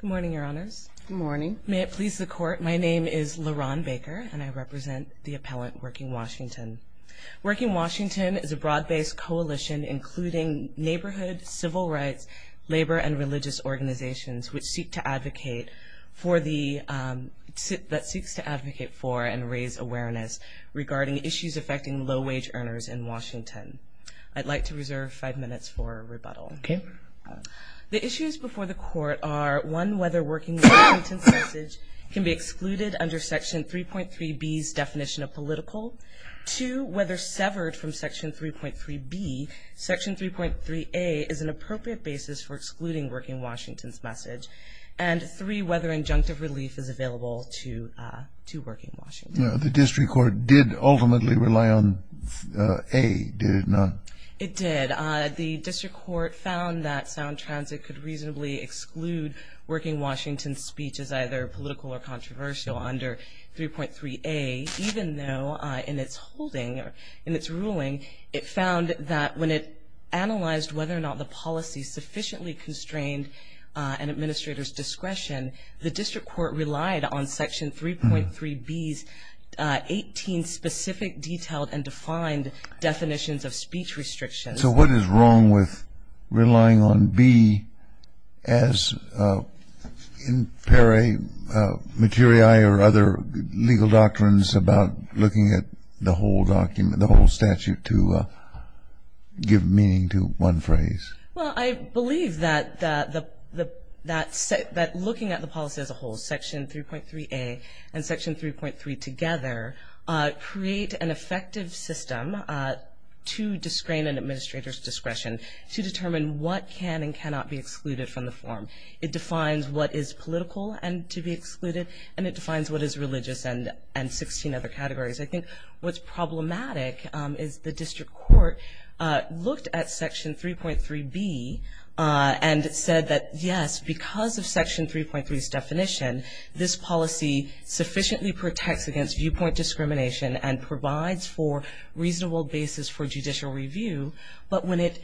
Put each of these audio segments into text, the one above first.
Good morning, Your Honors. Good morning. May it please the Court, my name is La'Ron Baker, and I represent the appellant, Working Washington. Working Washington is a broad-based coalition including neighborhood, civil rights, labor, and religious organizations which seek to advocate for and raise awareness regarding issues affecting low-wage earners in Washington. I'd like to reserve five minutes for rebuttal. Okay. The issues before the Court are, one, whether Working Washington's message can be excluded under Section 3.3b's definition of political. Two, whether severed from Section 3.3b, Section 3.3a is an appropriate basis for excluding Working Washington's message. And three, whether injunctive relief is available to Working Washington. The District Court did ultimately rely on a, did it not? It did. The District Court found that Sound Transit could reasonably exclude Working Washington's speech as either political or controversial under 3.3a, even though in its holding, in its ruling, it found that when it analyzed whether or not the policy sufficiently constrained an administrator's discretion, the District Court relied on Section 3.3b's 18 specific, detailed, and defined definitions of speech restrictions. So what is wrong with relying on b as in peri materiae or other legal doctrines about looking at the whole document, the whole statute to give meaning to one phrase? Well, I believe that looking at the policy as a whole, Section 3.3a and Section 3.3 together, create an effective system to discrain an administrator's discretion to determine what can and cannot be excluded from the form. It defines what is political and to be excluded, and it defines what is religious and 16 other categories. I think what's problematic is the District Court looked at Section 3.3b and said that, yes, because of Section 3.3's definition, this policy sufficiently protects against viewpoint discrimination and provides for reasonable basis for judicial review. But when it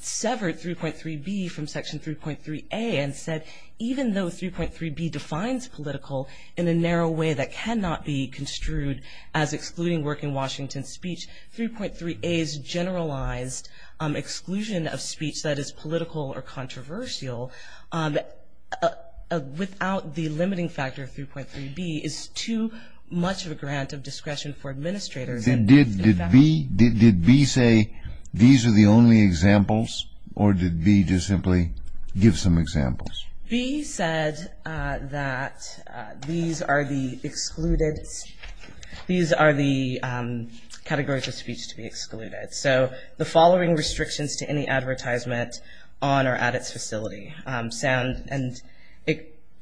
severed 3.3b from Section 3.3a and said, even though 3.3b defines political in a narrow way that cannot be construed as excluding work in Washington speech, 3.3a's generalized exclusion of speech that is political or controversial without the limiting factor of 3.3b is too much of a grant of discretion for administrators. Did B say these are the only examples, or did B just simply give some examples? B said that these are the excluded, these are the categories of speech to be excluded. So the following restrictions to any advertisement on or at its facility sound, and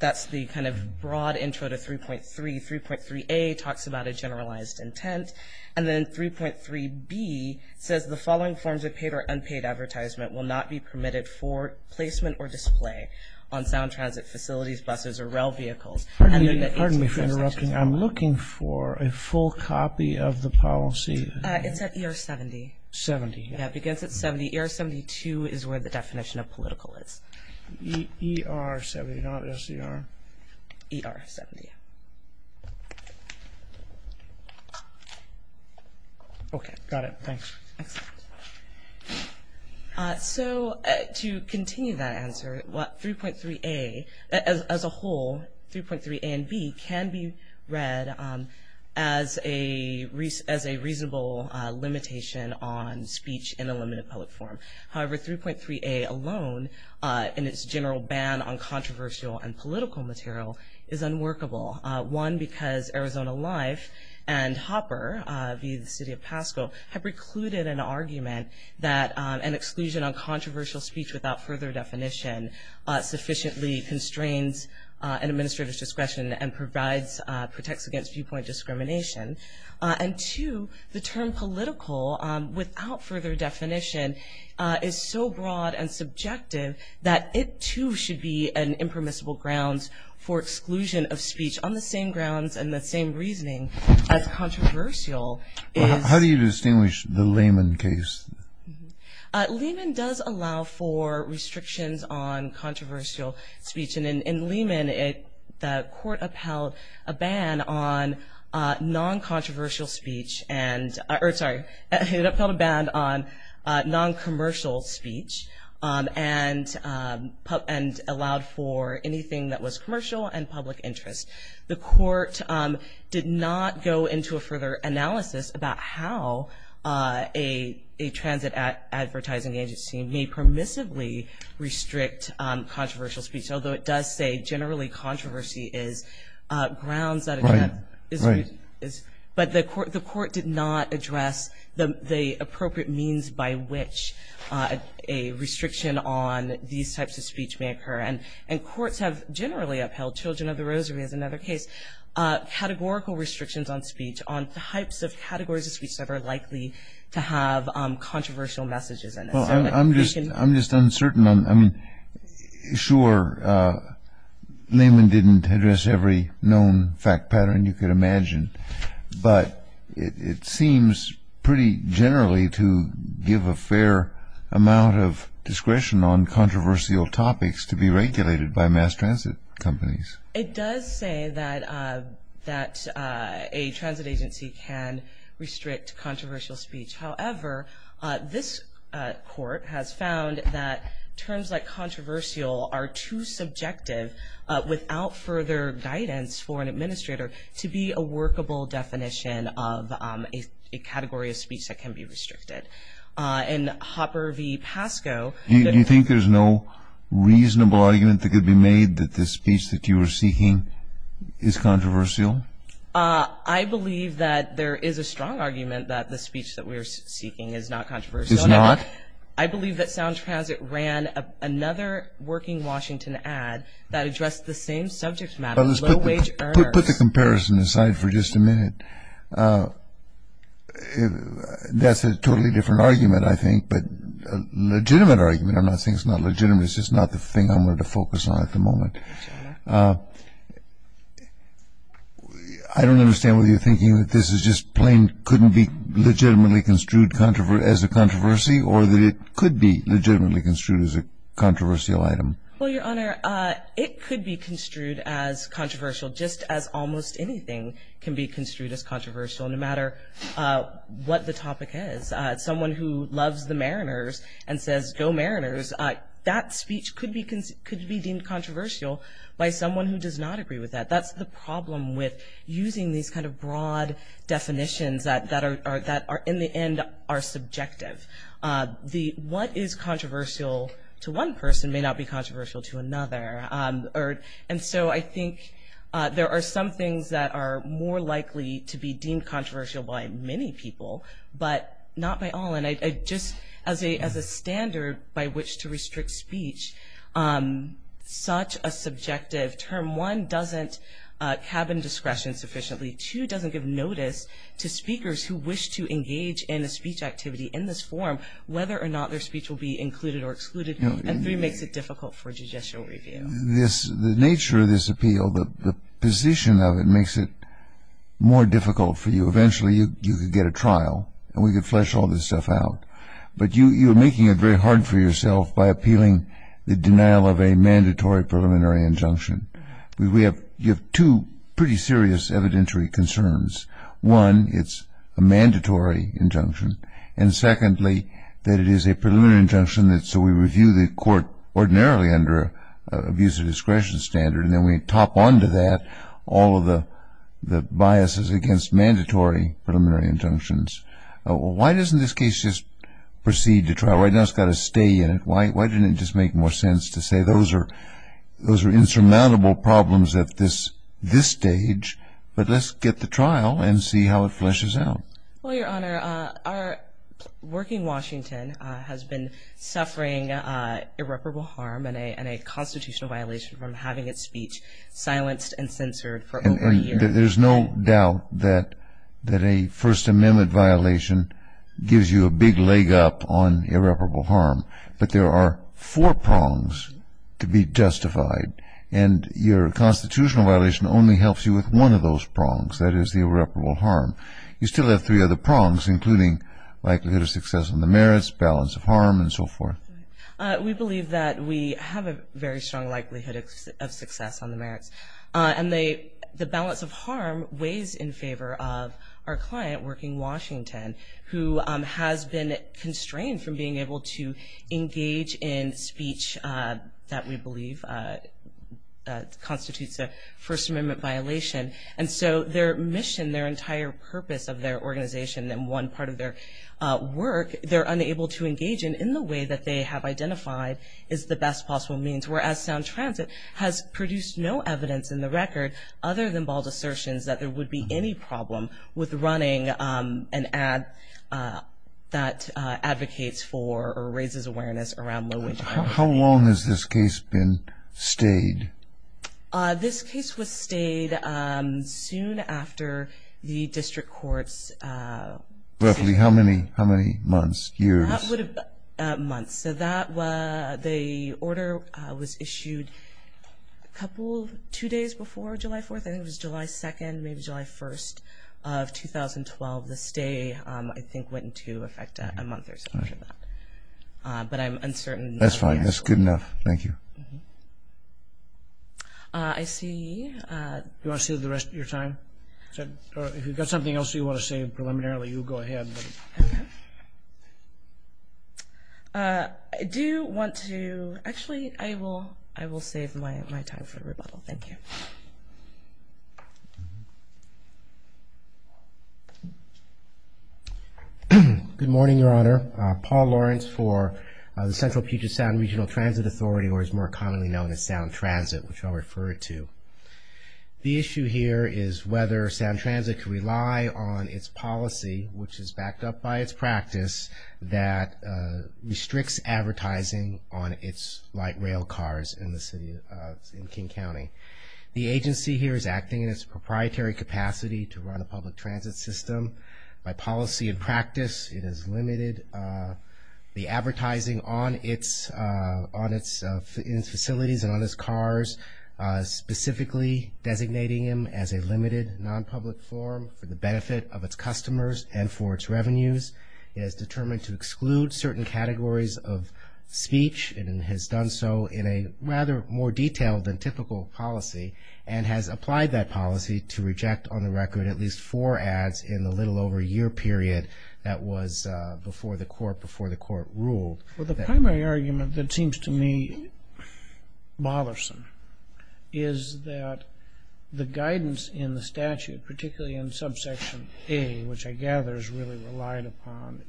that's the kind of broad intro to 3.3. 3.3a talks about a generalized intent. And then 3.3b says the following forms of paid or unpaid advertisement will not be permitted for placement or display on sound transit facilities, buses, or rail vehicles. Pardon me for interrupting. I'm looking for a full copy of the policy. It's at ER 70. 70. Yeah, it begins at 70. ER 72 is where the definition of political is. ER 70, not SDR. ER 70. Thanks. Excellent. So to continue that answer, 3.3a, as a whole, 3.3a and 3.3b can be read as a reasonable limitation on speech in a limited public forum. However, 3.3a alone, in its general ban on controversial and political material, is unworkable. One, because Arizona Life and Hopper, via the city of Pasco, have recluded an argument that an exclusion on controversial speech without further definition sufficiently constrains an administrator's discretion and protects against viewpoint discrimination. And, two, the term political without further definition is so broad and subjective that it, too, should be an impermissible grounds for exclusion of speech on the same grounds and the same reasoning as controversial is. How do you distinguish the Lehman case? Lehman does allow for restrictions on controversial speech. And in Lehman, the court upheld a ban on non-commercial speech and allowed for anything that was commercial and public interest. The court did not go into a further analysis about how a transit advertising agency may permissively restrict controversial speech, although it does say generally controversy is grounds that address. Right, right. But the court did not address the appropriate means by which a restriction on these types of speech may occur. And courts have generally upheld, Children of the Rosary is another case, categorical restrictions on speech, on the types of categories of speech that are likely to have controversial messages in it. Well, I'm just uncertain. I mean, sure, Lehman didn't address every known fact pattern you could imagine, but it seems pretty generally to give a fair amount of discretion on controversial topics to be regulated by mass transit companies. It does say that a transit agency can restrict controversial speech. However, this court has found that terms like controversial are too subjective without further guidance for an administrator to be a workable definition of a category of speech that can be restricted. In Hopper v. Pascoe. Do you think there's no reasonable argument that could be made that the speech that you are seeking is controversial? I believe that there is a strong argument that the speech that we are seeking is not controversial. It's not? I believe that Sound Transit ran another working Washington ad that addressed the same subject matter, low-wage earners. Put the comparison aside for just a minute. That's a totally different argument, I think, but a legitimate argument. I'm not saying it's not legitimate. It's just not the thing I'm going to focus on at the moment. I don't understand whether you're thinking that this is just plain couldn't be legitimately construed as a controversy or that it could be legitimately construed as a controversial item. Well, Your Honor, it could be construed as controversial, just as almost anything can be construed as controversial, no matter what the topic is. Someone who loves the Mariners and says, go Mariners, that speech could be deemed controversial by someone who does not agree with that. That's the problem with using these kind of broad definitions that are, in the end, are subjective. What is controversial to one person may not be controversial to another. And so I think there are some things that are more likely to be deemed controversial by many people, but not by all. And just as a standard by which to restrict speech, such a subjective term, one, doesn't cabin discretion sufficiently, two, doesn't give notice to speakers who wish to engage in a speech activity in this form, whether or not their speech will be included or excluded, and three, makes it difficult for judicial review. The nature of this appeal, the position of it, makes it more difficult for you. Eventually, you could get a trial, and we could flesh all this stuff out. But you're making it very hard for yourself by appealing the denial of a mandatory preliminary injunction. You have two pretty serious evidentiary concerns. One, it's a mandatory injunction, and secondly, that it is a preliminary injunction, so we review the court ordinarily under abuse of discretion standard, and then we top onto that all of the biases against mandatory preliminary injunctions. Why doesn't this case just proceed to trial? Right now, it's got a stay in it. Why didn't it just make more sense to say those are insurmountable problems at this stage, but let's get the trial and see how it fleshes out? Well, Your Honor, our working Washington has been suffering irreparable harm and a constitutional violation from having its speech silenced and censored for over a year. There's no doubt that a First Amendment violation gives you a big leg up on irreparable harm, but there are four prongs to be justified, and your constitutional violation only helps you with one of those prongs, that is the irreparable harm. You still have three other prongs, including likelihood of success on the merits, balance of harm, and so forth. We believe that we have a very strong likelihood of success on the merits, and the balance of harm weighs in favor of our client, working Washington, who has been constrained from being able to engage in speech that we believe constitutes a First Amendment violation. And so their mission, their entire purpose of their organization and one part of their work, they're unable to engage in in the way that they have identified is the best possible means, whereas Sound Transit has produced no evidence in the record other than bald assertions that there would be any problem with running an ad that advocates for or raises awareness around low-wage hiring. How long has this case been stayed? This case was stayed soon after the district court's decision. Roughly how many months, years? Months. So the order was issued a couple, two days before July 4th. I think it was July 2nd, maybe July 1st of 2012. The stay, I think, went into effect a month or so after that. But I'm uncertain. That's fine. That's good enough. Thank you. I see. Do you want to say the rest of your time? If you've got something else you want to say preliminarily, you go ahead. I do want to, actually, I will save my time for rebuttal. Thank you. Good morning, Your Honor. Paul Lawrence for the Central Puget Sound Regional Transit Authority, or as more commonly known as Sound Transit, which I'll refer to. The issue here is whether Sound Transit can rely on its policy, which is backed up by its practice, that restricts advertising on its light rail cars in King County. The agency here is acting in its proprietary capacity to run a public transit system. By policy and practice, it has limited the advertising on its facilities and on its cars, specifically designating them as a limited non-public form for the benefit of its customers and for its revenues. It has determined to exclude certain categories of speech and has done so in a rather more detailed than typical policy and has applied that policy to reject on the record at least four ads in the little over a year period that was before the court ruled. Well, the primary argument that seems to me bothersome is that the guidance in the statute, particularly in subsection A, which I gather is really relied upon,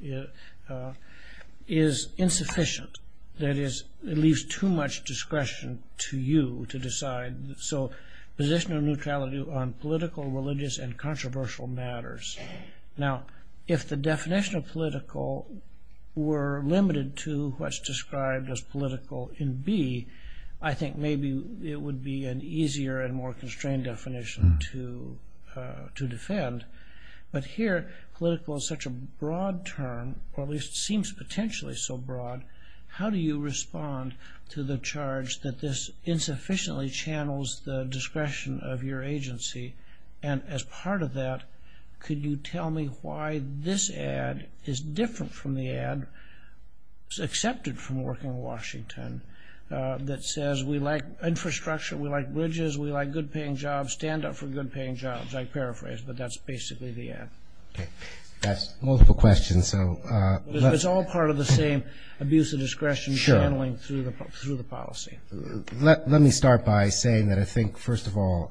is insufficient. That is, it leaves too much discretion to you to decide. So position of neutrality on political, religious, and controversial matters. Now, if the definition of political were limited to what's described as political in B, I think maybe it would be an easier and more constrained definition to defend. But here, political is such a broad term, or at least seems potentially so broad, how do you respond to the charge that this insufficiently channels the discretion of your agency? And as part of that, could you tell me why this ad is different from the ad accepted from Working Washington that says we like infrastructure, we like bridges, we like good-paying jobs, stand up for good-paying jobs. I paraphrase, but that's basically the ad. That's multiple questions. It's all part of the same abuse of discretion channeling through the policy. Let me start by saying that I think, first of all,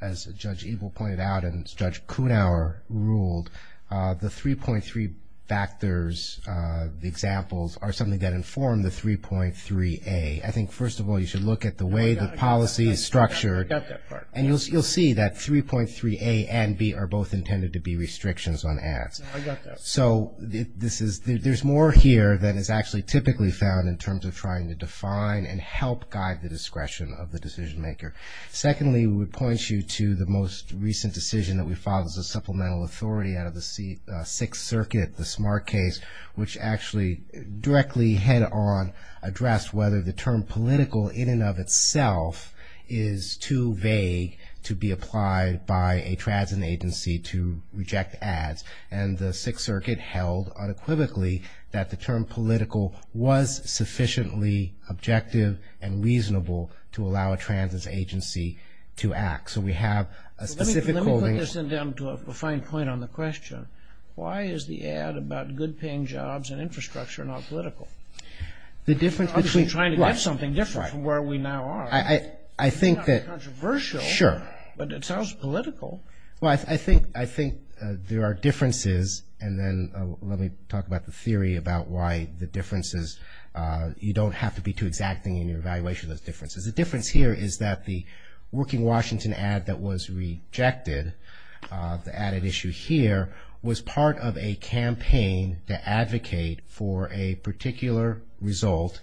as Judge Eagle pointed out and Judge Kunauer ruled, the 3.3 factors, the examples, are something that inform the 3.3A. I think, first of all, you should look at the way the policy is structured. I got that part. And you'll see that 3.3A and B are both intended to be restrictions on ads. I got that part. So there's more here than is actually typically found in terms of trying to define and help guide the discretion of the decision-maker. Secondly, we would point you to the most recent decision that we filed as a supplemental authority out of the Sixth Circuit, the Smart Case, which actually directly head-on addressed whether the term political in and of itself is too vague to be applied by a transit agency to reject ads. And the Sixth Circuit held unequivocally that the term political was sufficiently objective and reasonable to allow a transit agency to act. So we have a specific holding. Let me put this down to a fine point on the question. Why is the ad about good-paying jobs and infrastructure not political? Obviously trying to get something different from where we now are. I think that, sure. It's not controversial, but it sounds political. Well, I think there are differences, and then let me talk about the theory about why the differences, you don't have to be too exacting in your evaluation of those differences. The difference here is that the Working Washington ad that was rejected, the added issue here, was part of a campaign to advocate for a particular result,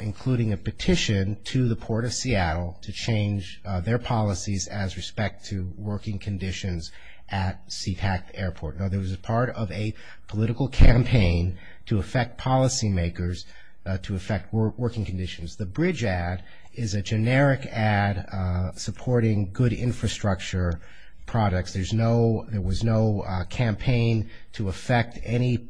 including a petition to the Port of Seattle to change their policies as respect to working conditions at SeaTac Airport. In other words, it was part of a political campaign to affect policymakers, to affect working conditions. The Bridge ad is a generic ad supporting good infrastructure products. There was no campaign to affect any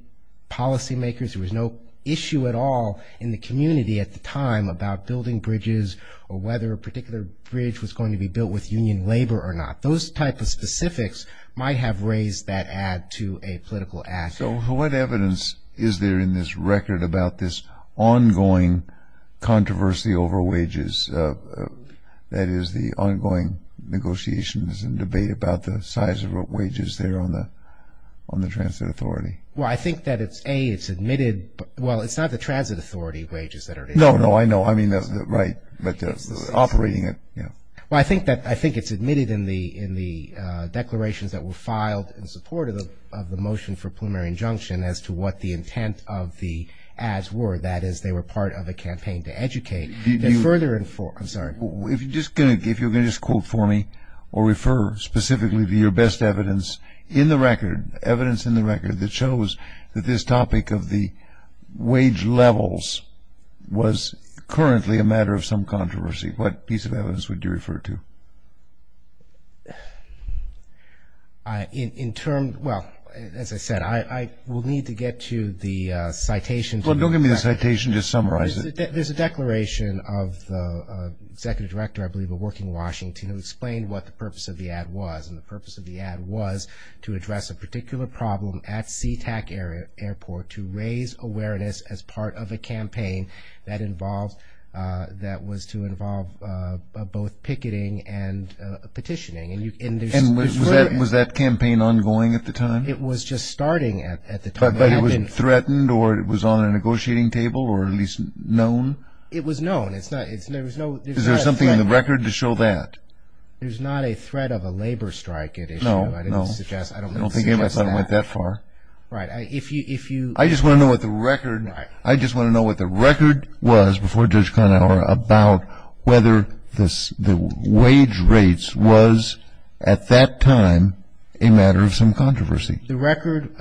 policymakers. There was no issue at all in the community at the time about building bridges or whether a particular bridge was going to be built with union labor or not. Those type of specifics might have raised that ad to a political ad. So what evidence is there in this record about this ongoing controversy over wages, that is, the ongoing negotiations and debate about the size of wages there on the transit authority? Well, I think that it's, A, it's admitted. Well, it's not the transit authority wages that are the issue. No, no, I know. I mean, that's right. But operating it, yeah. Well, I think it's admitted in the declarations that were filed in support of the motion for preliminary injunction as to what the intent of the ads were, that is, they were part of a campaign to educate and further inform. I'm sorry. If you're going to just quote for me or refer specifically to your best evidence in the record, that shows that this topic of the wage levels was currently a matter of some controversy, what piece of evidence would you refer to? In terms, well, as I said, I will need to get to the citation. Well, don't give me the citation. Just summarize it. There's a declaration of the executive director, I believe, of Working Washington, who explained what the purpose of the ad was. And the purpose of the ad was to address a particular problem at SeaTac Airport to raise awareness as part of a campaign that was to involve both picketing and petitioning. And was that campaign ongoing at the time? It was just starting at the time. But it was threatened or it was on a negotiating table or at least known? It was known. Is there something in the record to show that? There's not a threat of a labor strike at issue. No, no. I don't think it went that far. Right. I just want to know what the record was before Judge Conower about whether the wage rates was, at that time, a matter of some controversy. The record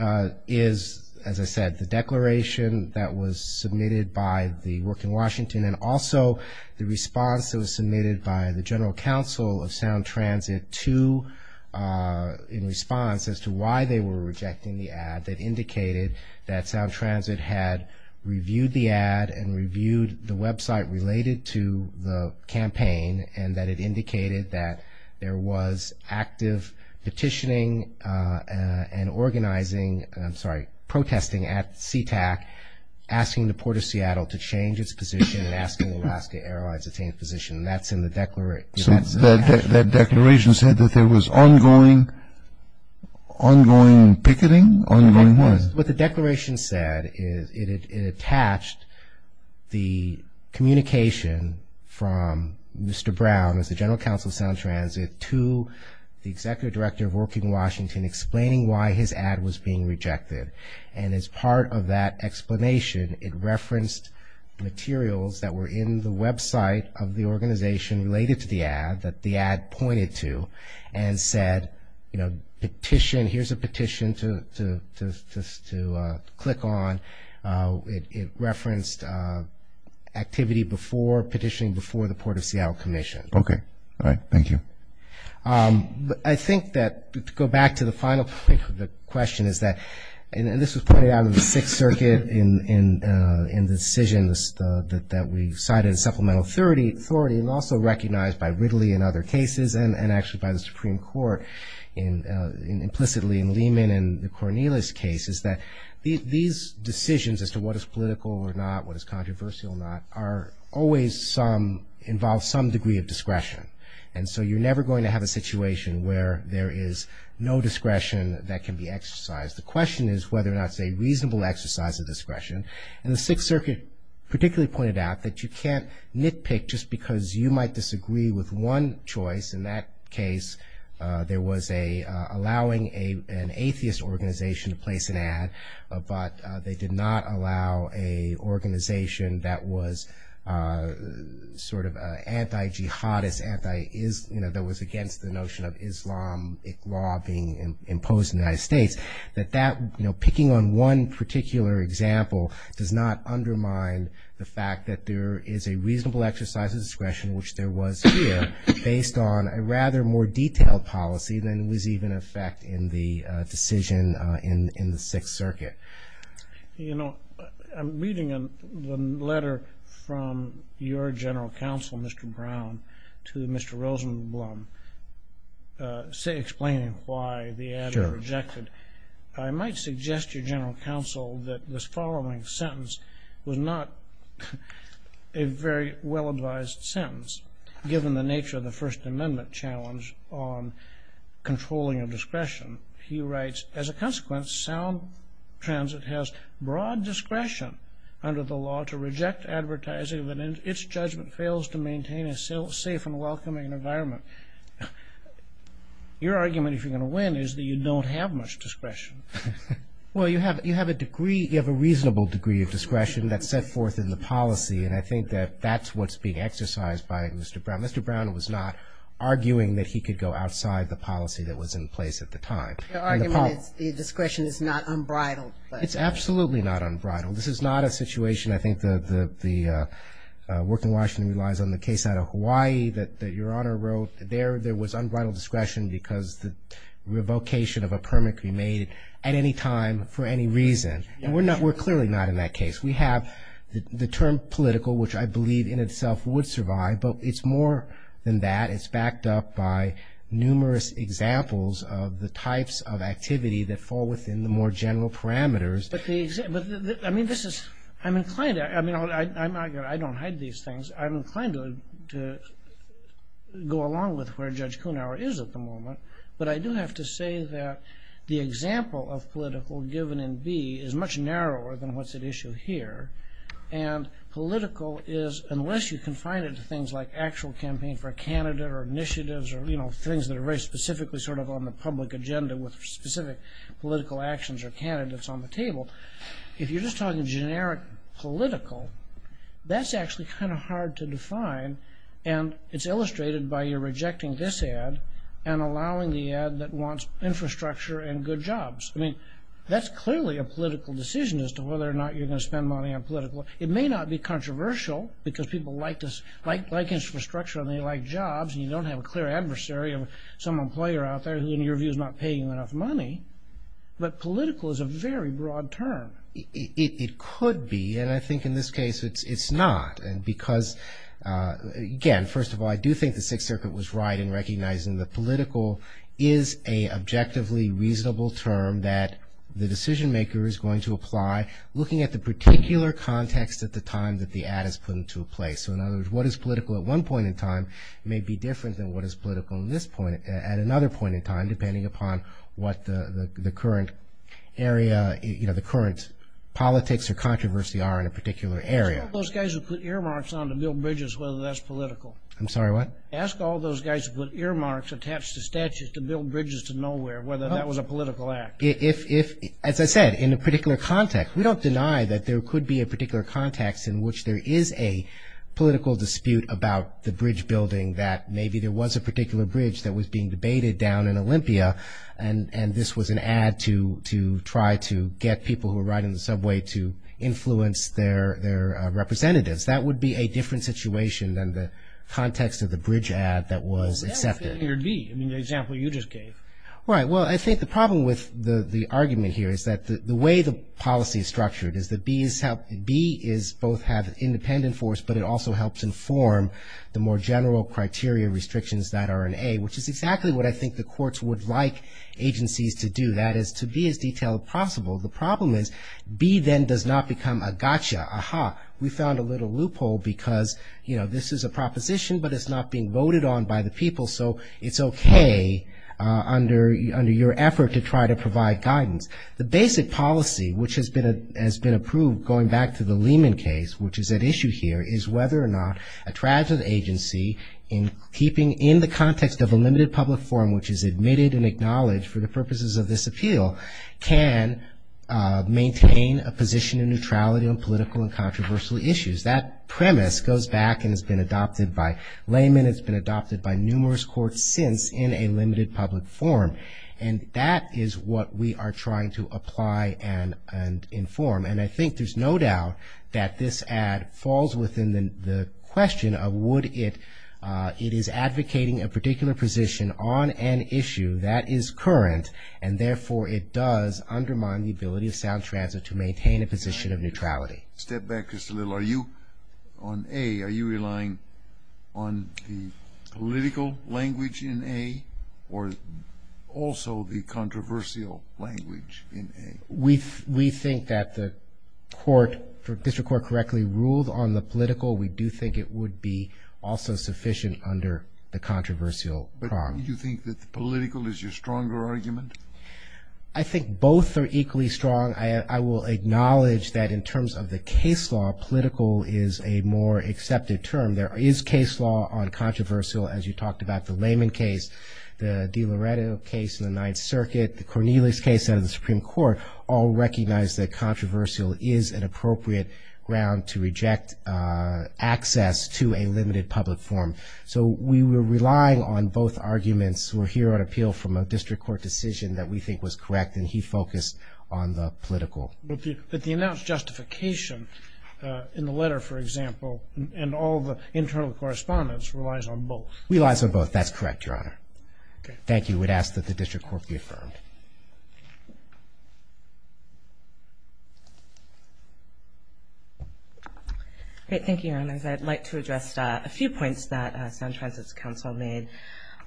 is, as I said, the declaration that was submitted by the Working Washington and also the response that was submitted by the General Counsel of Sound Transit in response as to why they were rejecting the ad that indicated that Sound Transit had reviewed the ad and reviewed the website related to the campaign and that it indicated that there was active petitioning and organizing, I'm sorry, and asking Alaska Airlines to change position. That's in the declaration. So that declaration said that there was ongoing picketing, ongoing what? What the declaration said is it attached the communication from Mr. Brown, as the General Counsel of Sound Transit, to the Executive Director of Working Washington, explaining why his ad was being rejected. And as part of that explanation, it referenced materials that were in the website of the organization related to the ad that the ad pointed to and said, you know, petition, here's a petition to click on. It referenced activity before petitioning before the Port of Seattle Commission. Okay. All right. Thank you. I think that to go back to the final point of the question is that, and this was pointed out in the Sixth Circuit in the decisions that we cited in supplemental authority and also recognized by Ridley in other cases and actually by the Supreme Court implicitly in Lehman and the Cornelius case is that these decisions as to what is political or not, what is controversial or not, always involve some degree of discretion. And so you're never going to have a situation where there is no discretion that can be exercised. The question is whether or not it's a reasonable exercise of discretion. And the Sixth Circuit particularly pointed out that you can't nitpick just because you might disagree with one choice. In that case, there was allowing an atheist organization to place an ad, but they did not allow an organization that was sort of anti-jihadist, you know, that was against the notion of Islamic law being imposed in the United States. That that, you know, picking on one particular example does not undermine the fact that there is a reasonable exercise of discretion which there was here based on a rather more detailed policy than was even a fact in the decision in the Sixth Circuit. You know, I'm reading a letter from your general counsel, Mr. Brown, to Mr. Rosenblum, explaining why the ad was rejected. I might suggest to your general counsel that this following sentence was not a very well-advised sentence given the nature of the First Amendment challenge on controlling of discretion. He writes, as a consequence, sound transit has broad discretion under the law to reject advertising if its judgment fails to maintain a safe and welcoming environment. Your argument, if you're going to win, is that you don't have much discretion. Well, you have a degree, you have a reasonable degree of discretion that's set forth in the policy, and I think that that's what's being exercised by Mr. Brown. Mr. Brown was not arguing that he could go outside the policy that was in place at the time. Your argument is discretion is not unbridled. It's absolutely not unbridled. This is not a situation, I think the work in Washington relies on the case out of Hawaii that your Honor wrote. There was unbridled discretion because the revocation of a permit could be made at any time for any reason. We're clearly not in that case. We have the term political, which I believe in itself would survive, but it's more than that. It's backed up by numerous examples of the types of activity that fall within the more general parameters. But the example, I mean, this is, I'm inclined, I mean, I don't hide these things. I'm inclined to go along with where Judge Kuhnauer is at the moment, but I do have to say that the example of political given in B is much narrower than what's at issue here. And political is, unless you confine it to things like actual campaign for a candidate or initiatives or, you know, things that are very specifically sort of on the public agenda with specific political actions or candidates on the table, if you're just talking generic political, that's actually kind of hard to define. And it's illustrated by your rejecting this ad and allowing the ad that wants infrastructure and good jobs. I mean, that's clearly a political decision as to whether or not you're going to spend money on political. It may not be controversial because people like infrastructure and they like jobs, and you don't have a clear adversary of some employer out there who, in your view, is not paying you enough money. But political is a very broad term. It could be, and I think in this case it's not, because, again, first of all, I do think the Sixth Circuit was right in recognizing that political is a objectively reasonable term that the decision maker is going to apply looking at the particular context at the time that the ad is put into place. So, in other words, what is political at one point in time may be different than what is political at another point in time, depending upon what the current area, you know, the current politics or controversy are in a particular area. Ask all those guys who put earmarks on to build bridges whether that's political. I'm sorry, what? Ask all those guys who put earmarks attached to statues to build bridges to nowhere whether that was a political act. If, as I said, in a particular context, we don't deny that there could be a particular context in which there is a political dispute about the bridge building, that maybe there was a particular bridge that was being debated down in Olympia and this was an ad to try to get people who were riding the subway to influence their representatives, that would be a different situation than the context of the bridge ad that was accepted. Well, that's the idea of B, I mean, the example you just gave. Right, well, I think the problem with the argument here is that the way the policy is structured is that B is both has independent force but it also helps inform the more general criteria restrictions that are in A, which is exactly what I think the courts would like agencies to do, that is to be as detailed as possible. The problem is B then does not become a gotcha, aha, we found a little loophole because, you know, this is a proposition but it's not being voted on by the people so it's okay under your effort to try to provide guidance. The basic policy which has been approved going back to the Lehman case, which is at issue here, is whether or not a tragedy agency in keeping in the context of a limited public forum, which is admitted and acknowledged for the purposes of this appeal, can maintain a position of neutrality on political and controversial issues. That premise goes back and has been adopted by Lehman, it's been adopted by numerous courts since in a limited public forum and that is what we are trying to apply and inform. And I think there's no doubt that this ad falls within the question of would it, it is advocating a particular position on an issue that is current and therefore it does undermine the ability of Sound Transit to maintain a position of neutrality. Step back just a little. Are you on A, are you relying on the political language in A or also the controversial language in A? We think that the court, the district court correctly ruled on the political. We do think it would be also sufficient under the controversial prong. But do you think that the political is your stronger argument? I think both are equally strong. I will acknowledge that in terms of the case law, political is a more accepted term. There is case law on controversial, as you talked about, the Lehman case, the DiLoretto case in the Ninth Circuit, the Cornelius case out of the Supreme Court, all recognize that controversial is an appropriate ground to reject access to a limited public forum. So we were relying on both arguments. We're here on appeal from a district court decision that we think was correct and he focused on the political. But the announced justification in the letter, for example, and all the internal correspondence relies on both. It relies on both. That's correct, Your Honor. Thank you. We'd ask that the district court be affirmed. Thank you, Your Honors. I'd like to address a few points that Sound Transit's counsel made.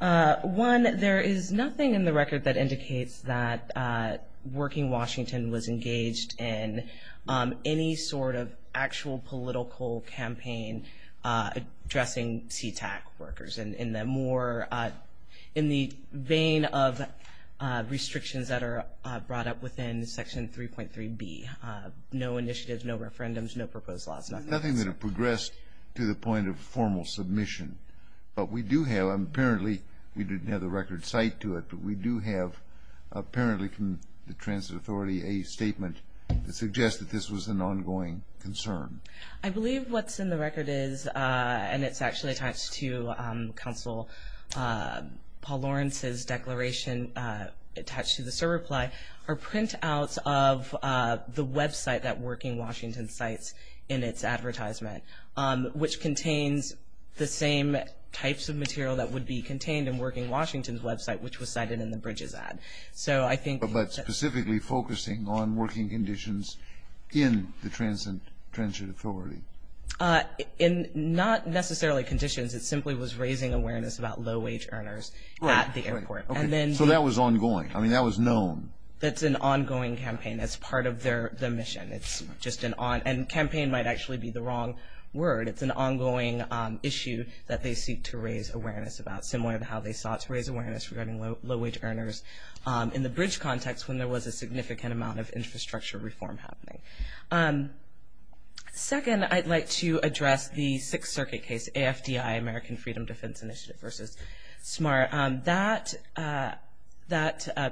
One, there is nothing in the record that indicates that Working Washington was engaged in any sort of actual political campaign addressing CTAC workers in the vein of restrictions that are brought up within Section 3.3B, no initiatives, no referendums, no proposed laws, nothing like that. There's nothing that progressed to the point of formal submission. But we do have, and apparently we didn't have the record cited to it, but we do have apparently from the Transit Authority a statement that suggests that this was an ongoing concern. I believe what's in the record is, and it's actually attached to counsel Paul Lawrence's declaration attached to this reply, are printouts of the website that Working Washington cites in its advertisement, which contains the same types of material that would be contained in Working Washington's website, which was cited in the Bridges ad. But specifically focusing on working conditions in the Transit Authority. Not necessarily conditions. It simply was raising awareness about low-wage earners at the airport. So that was ongoing. I mean, that was known. That's an ongoing campaign. That's part of the mission. And campaign might actually be the wrong word. It's an ongoing issue that they seek to raise awareness about, similar to how they sought to raise awareness regarding low-wage earners in the Bridge context when there was a significant amount of infrastructure reform happening. Second, I'd like to address the Sixth Circuit case, AFDI, American Freedom Defense Initiative versus SMART. That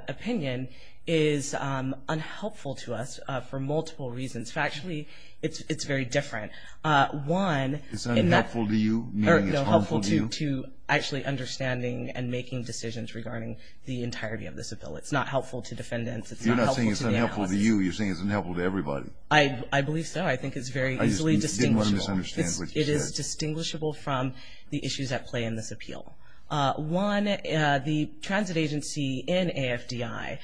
opinion is unhelpful to us for multiple reasons. Factually, it's very different. One, in that. It's unhelpful to you? Meaning it's harmful to you? No, helpful to actually understanding and making decisions regarding the entirety of this appeal. It's not helpful to defendants. It's not helpful to the analysis. You're not saying it's unhelpful to you. You're saying it's unhelpful to everybody. I believe so. I think it's very easily distinguishable. I just didn't want to misunderstand what you said. It is distinguishable from the issues at play in this appeal. One, the transit agency in AFDI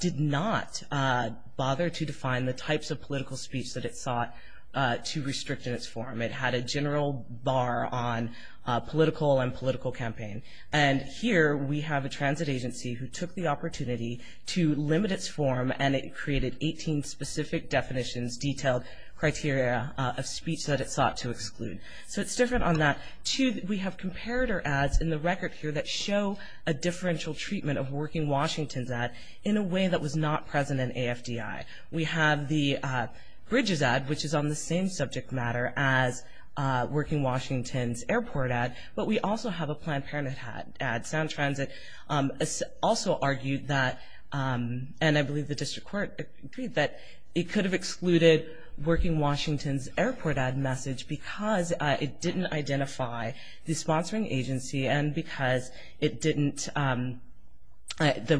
did not bother to define the types of political speech that it sought to restrict in its form. It had a general bar on political and political campaign. And here we have a transit agency who took the opportunity to limit its form, and it created 18 specific definitions, detailed criteria of speech that it sought to exclude. So it's different on that. Two, we have comparator ads in the record here that show a differential treatment of Working Washington's ad in a way that was not present in AFDI. We have the Bridges ad, which is on the same subject matter as Working Washington's airport ad, but we also have a Planned Parenthood ad. Sound Transit also argued that, and I believe the district court agreed that, it could have excluded Working Washington's airport ad message because it didn't identify the sponsoring agency and because it didn't, the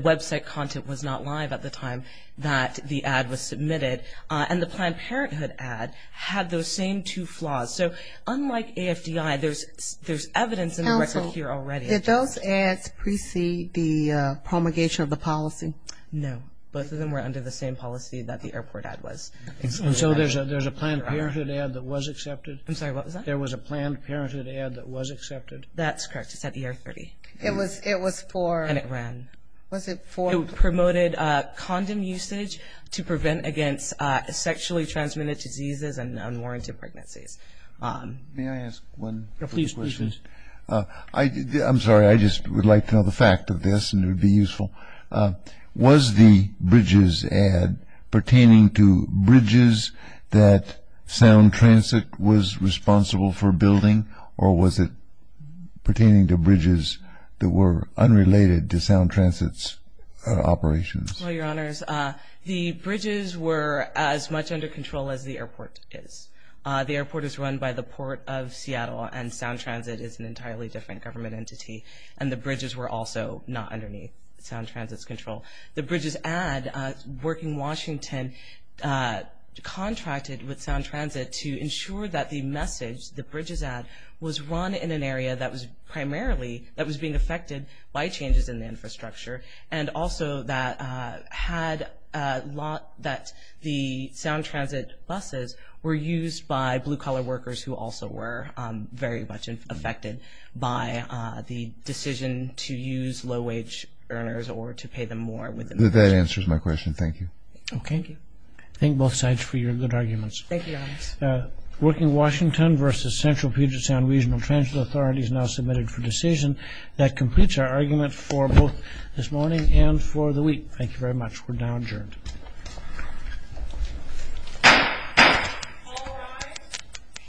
website content was not live at the time that the ad was submitted. And the Planned Parenthood ad had those same two flaws. So unlike AFDI, there's evidence in the record here already. Did those ads precede the promulgation of the policy? No. Both of them were under the same policy that the airport ad was. And so there's a Planned Parenthood ad that was accepted? I'm sorry, what was that? There was a Planned Parenthood ad that was accepted? That's correct. It's at ER 30. It was for? And it ran. Was it for? It promoted condom usage to prevent against sexually transmitted diseases and unwarranted pregnancies. May I ask one quick question? Please, please. I'm sorry, I just would like to know the fact of this and it would be useful. Was the bridges ad pertaining to bridges that Sound Transit was responsible for building or was it pertaining to bridges that were unrelated to Sound Transit's operations? Well, Your Honors, the bridges were as much under control as the airport is. The airport is run by the Port of Seattle and Sound Transit is an entirely different government entity. And the bridges were also not underneath Sound Transit's control. The bridges ad, Working Washington contracted with Sound Transit to ensure that the message, the bridges ad, was run in an area that was primarily, that was being affected by changes in the infrastructure and also that had a lot that the Sound Transit buses were used by blue-collar workers who also were very much affected by the decision to use low-wage earners or to pay them more. That answers my question. Thank you. Okay. Thank you. Thank both sides for your good arguments. Thank you, Your Honors. Working Washington versus Central Puget Sound Regional Transit Authority is now submitted for decision. That completes our argument for both this morning and for the week. Thank you very much. We're now adjourned. All rise.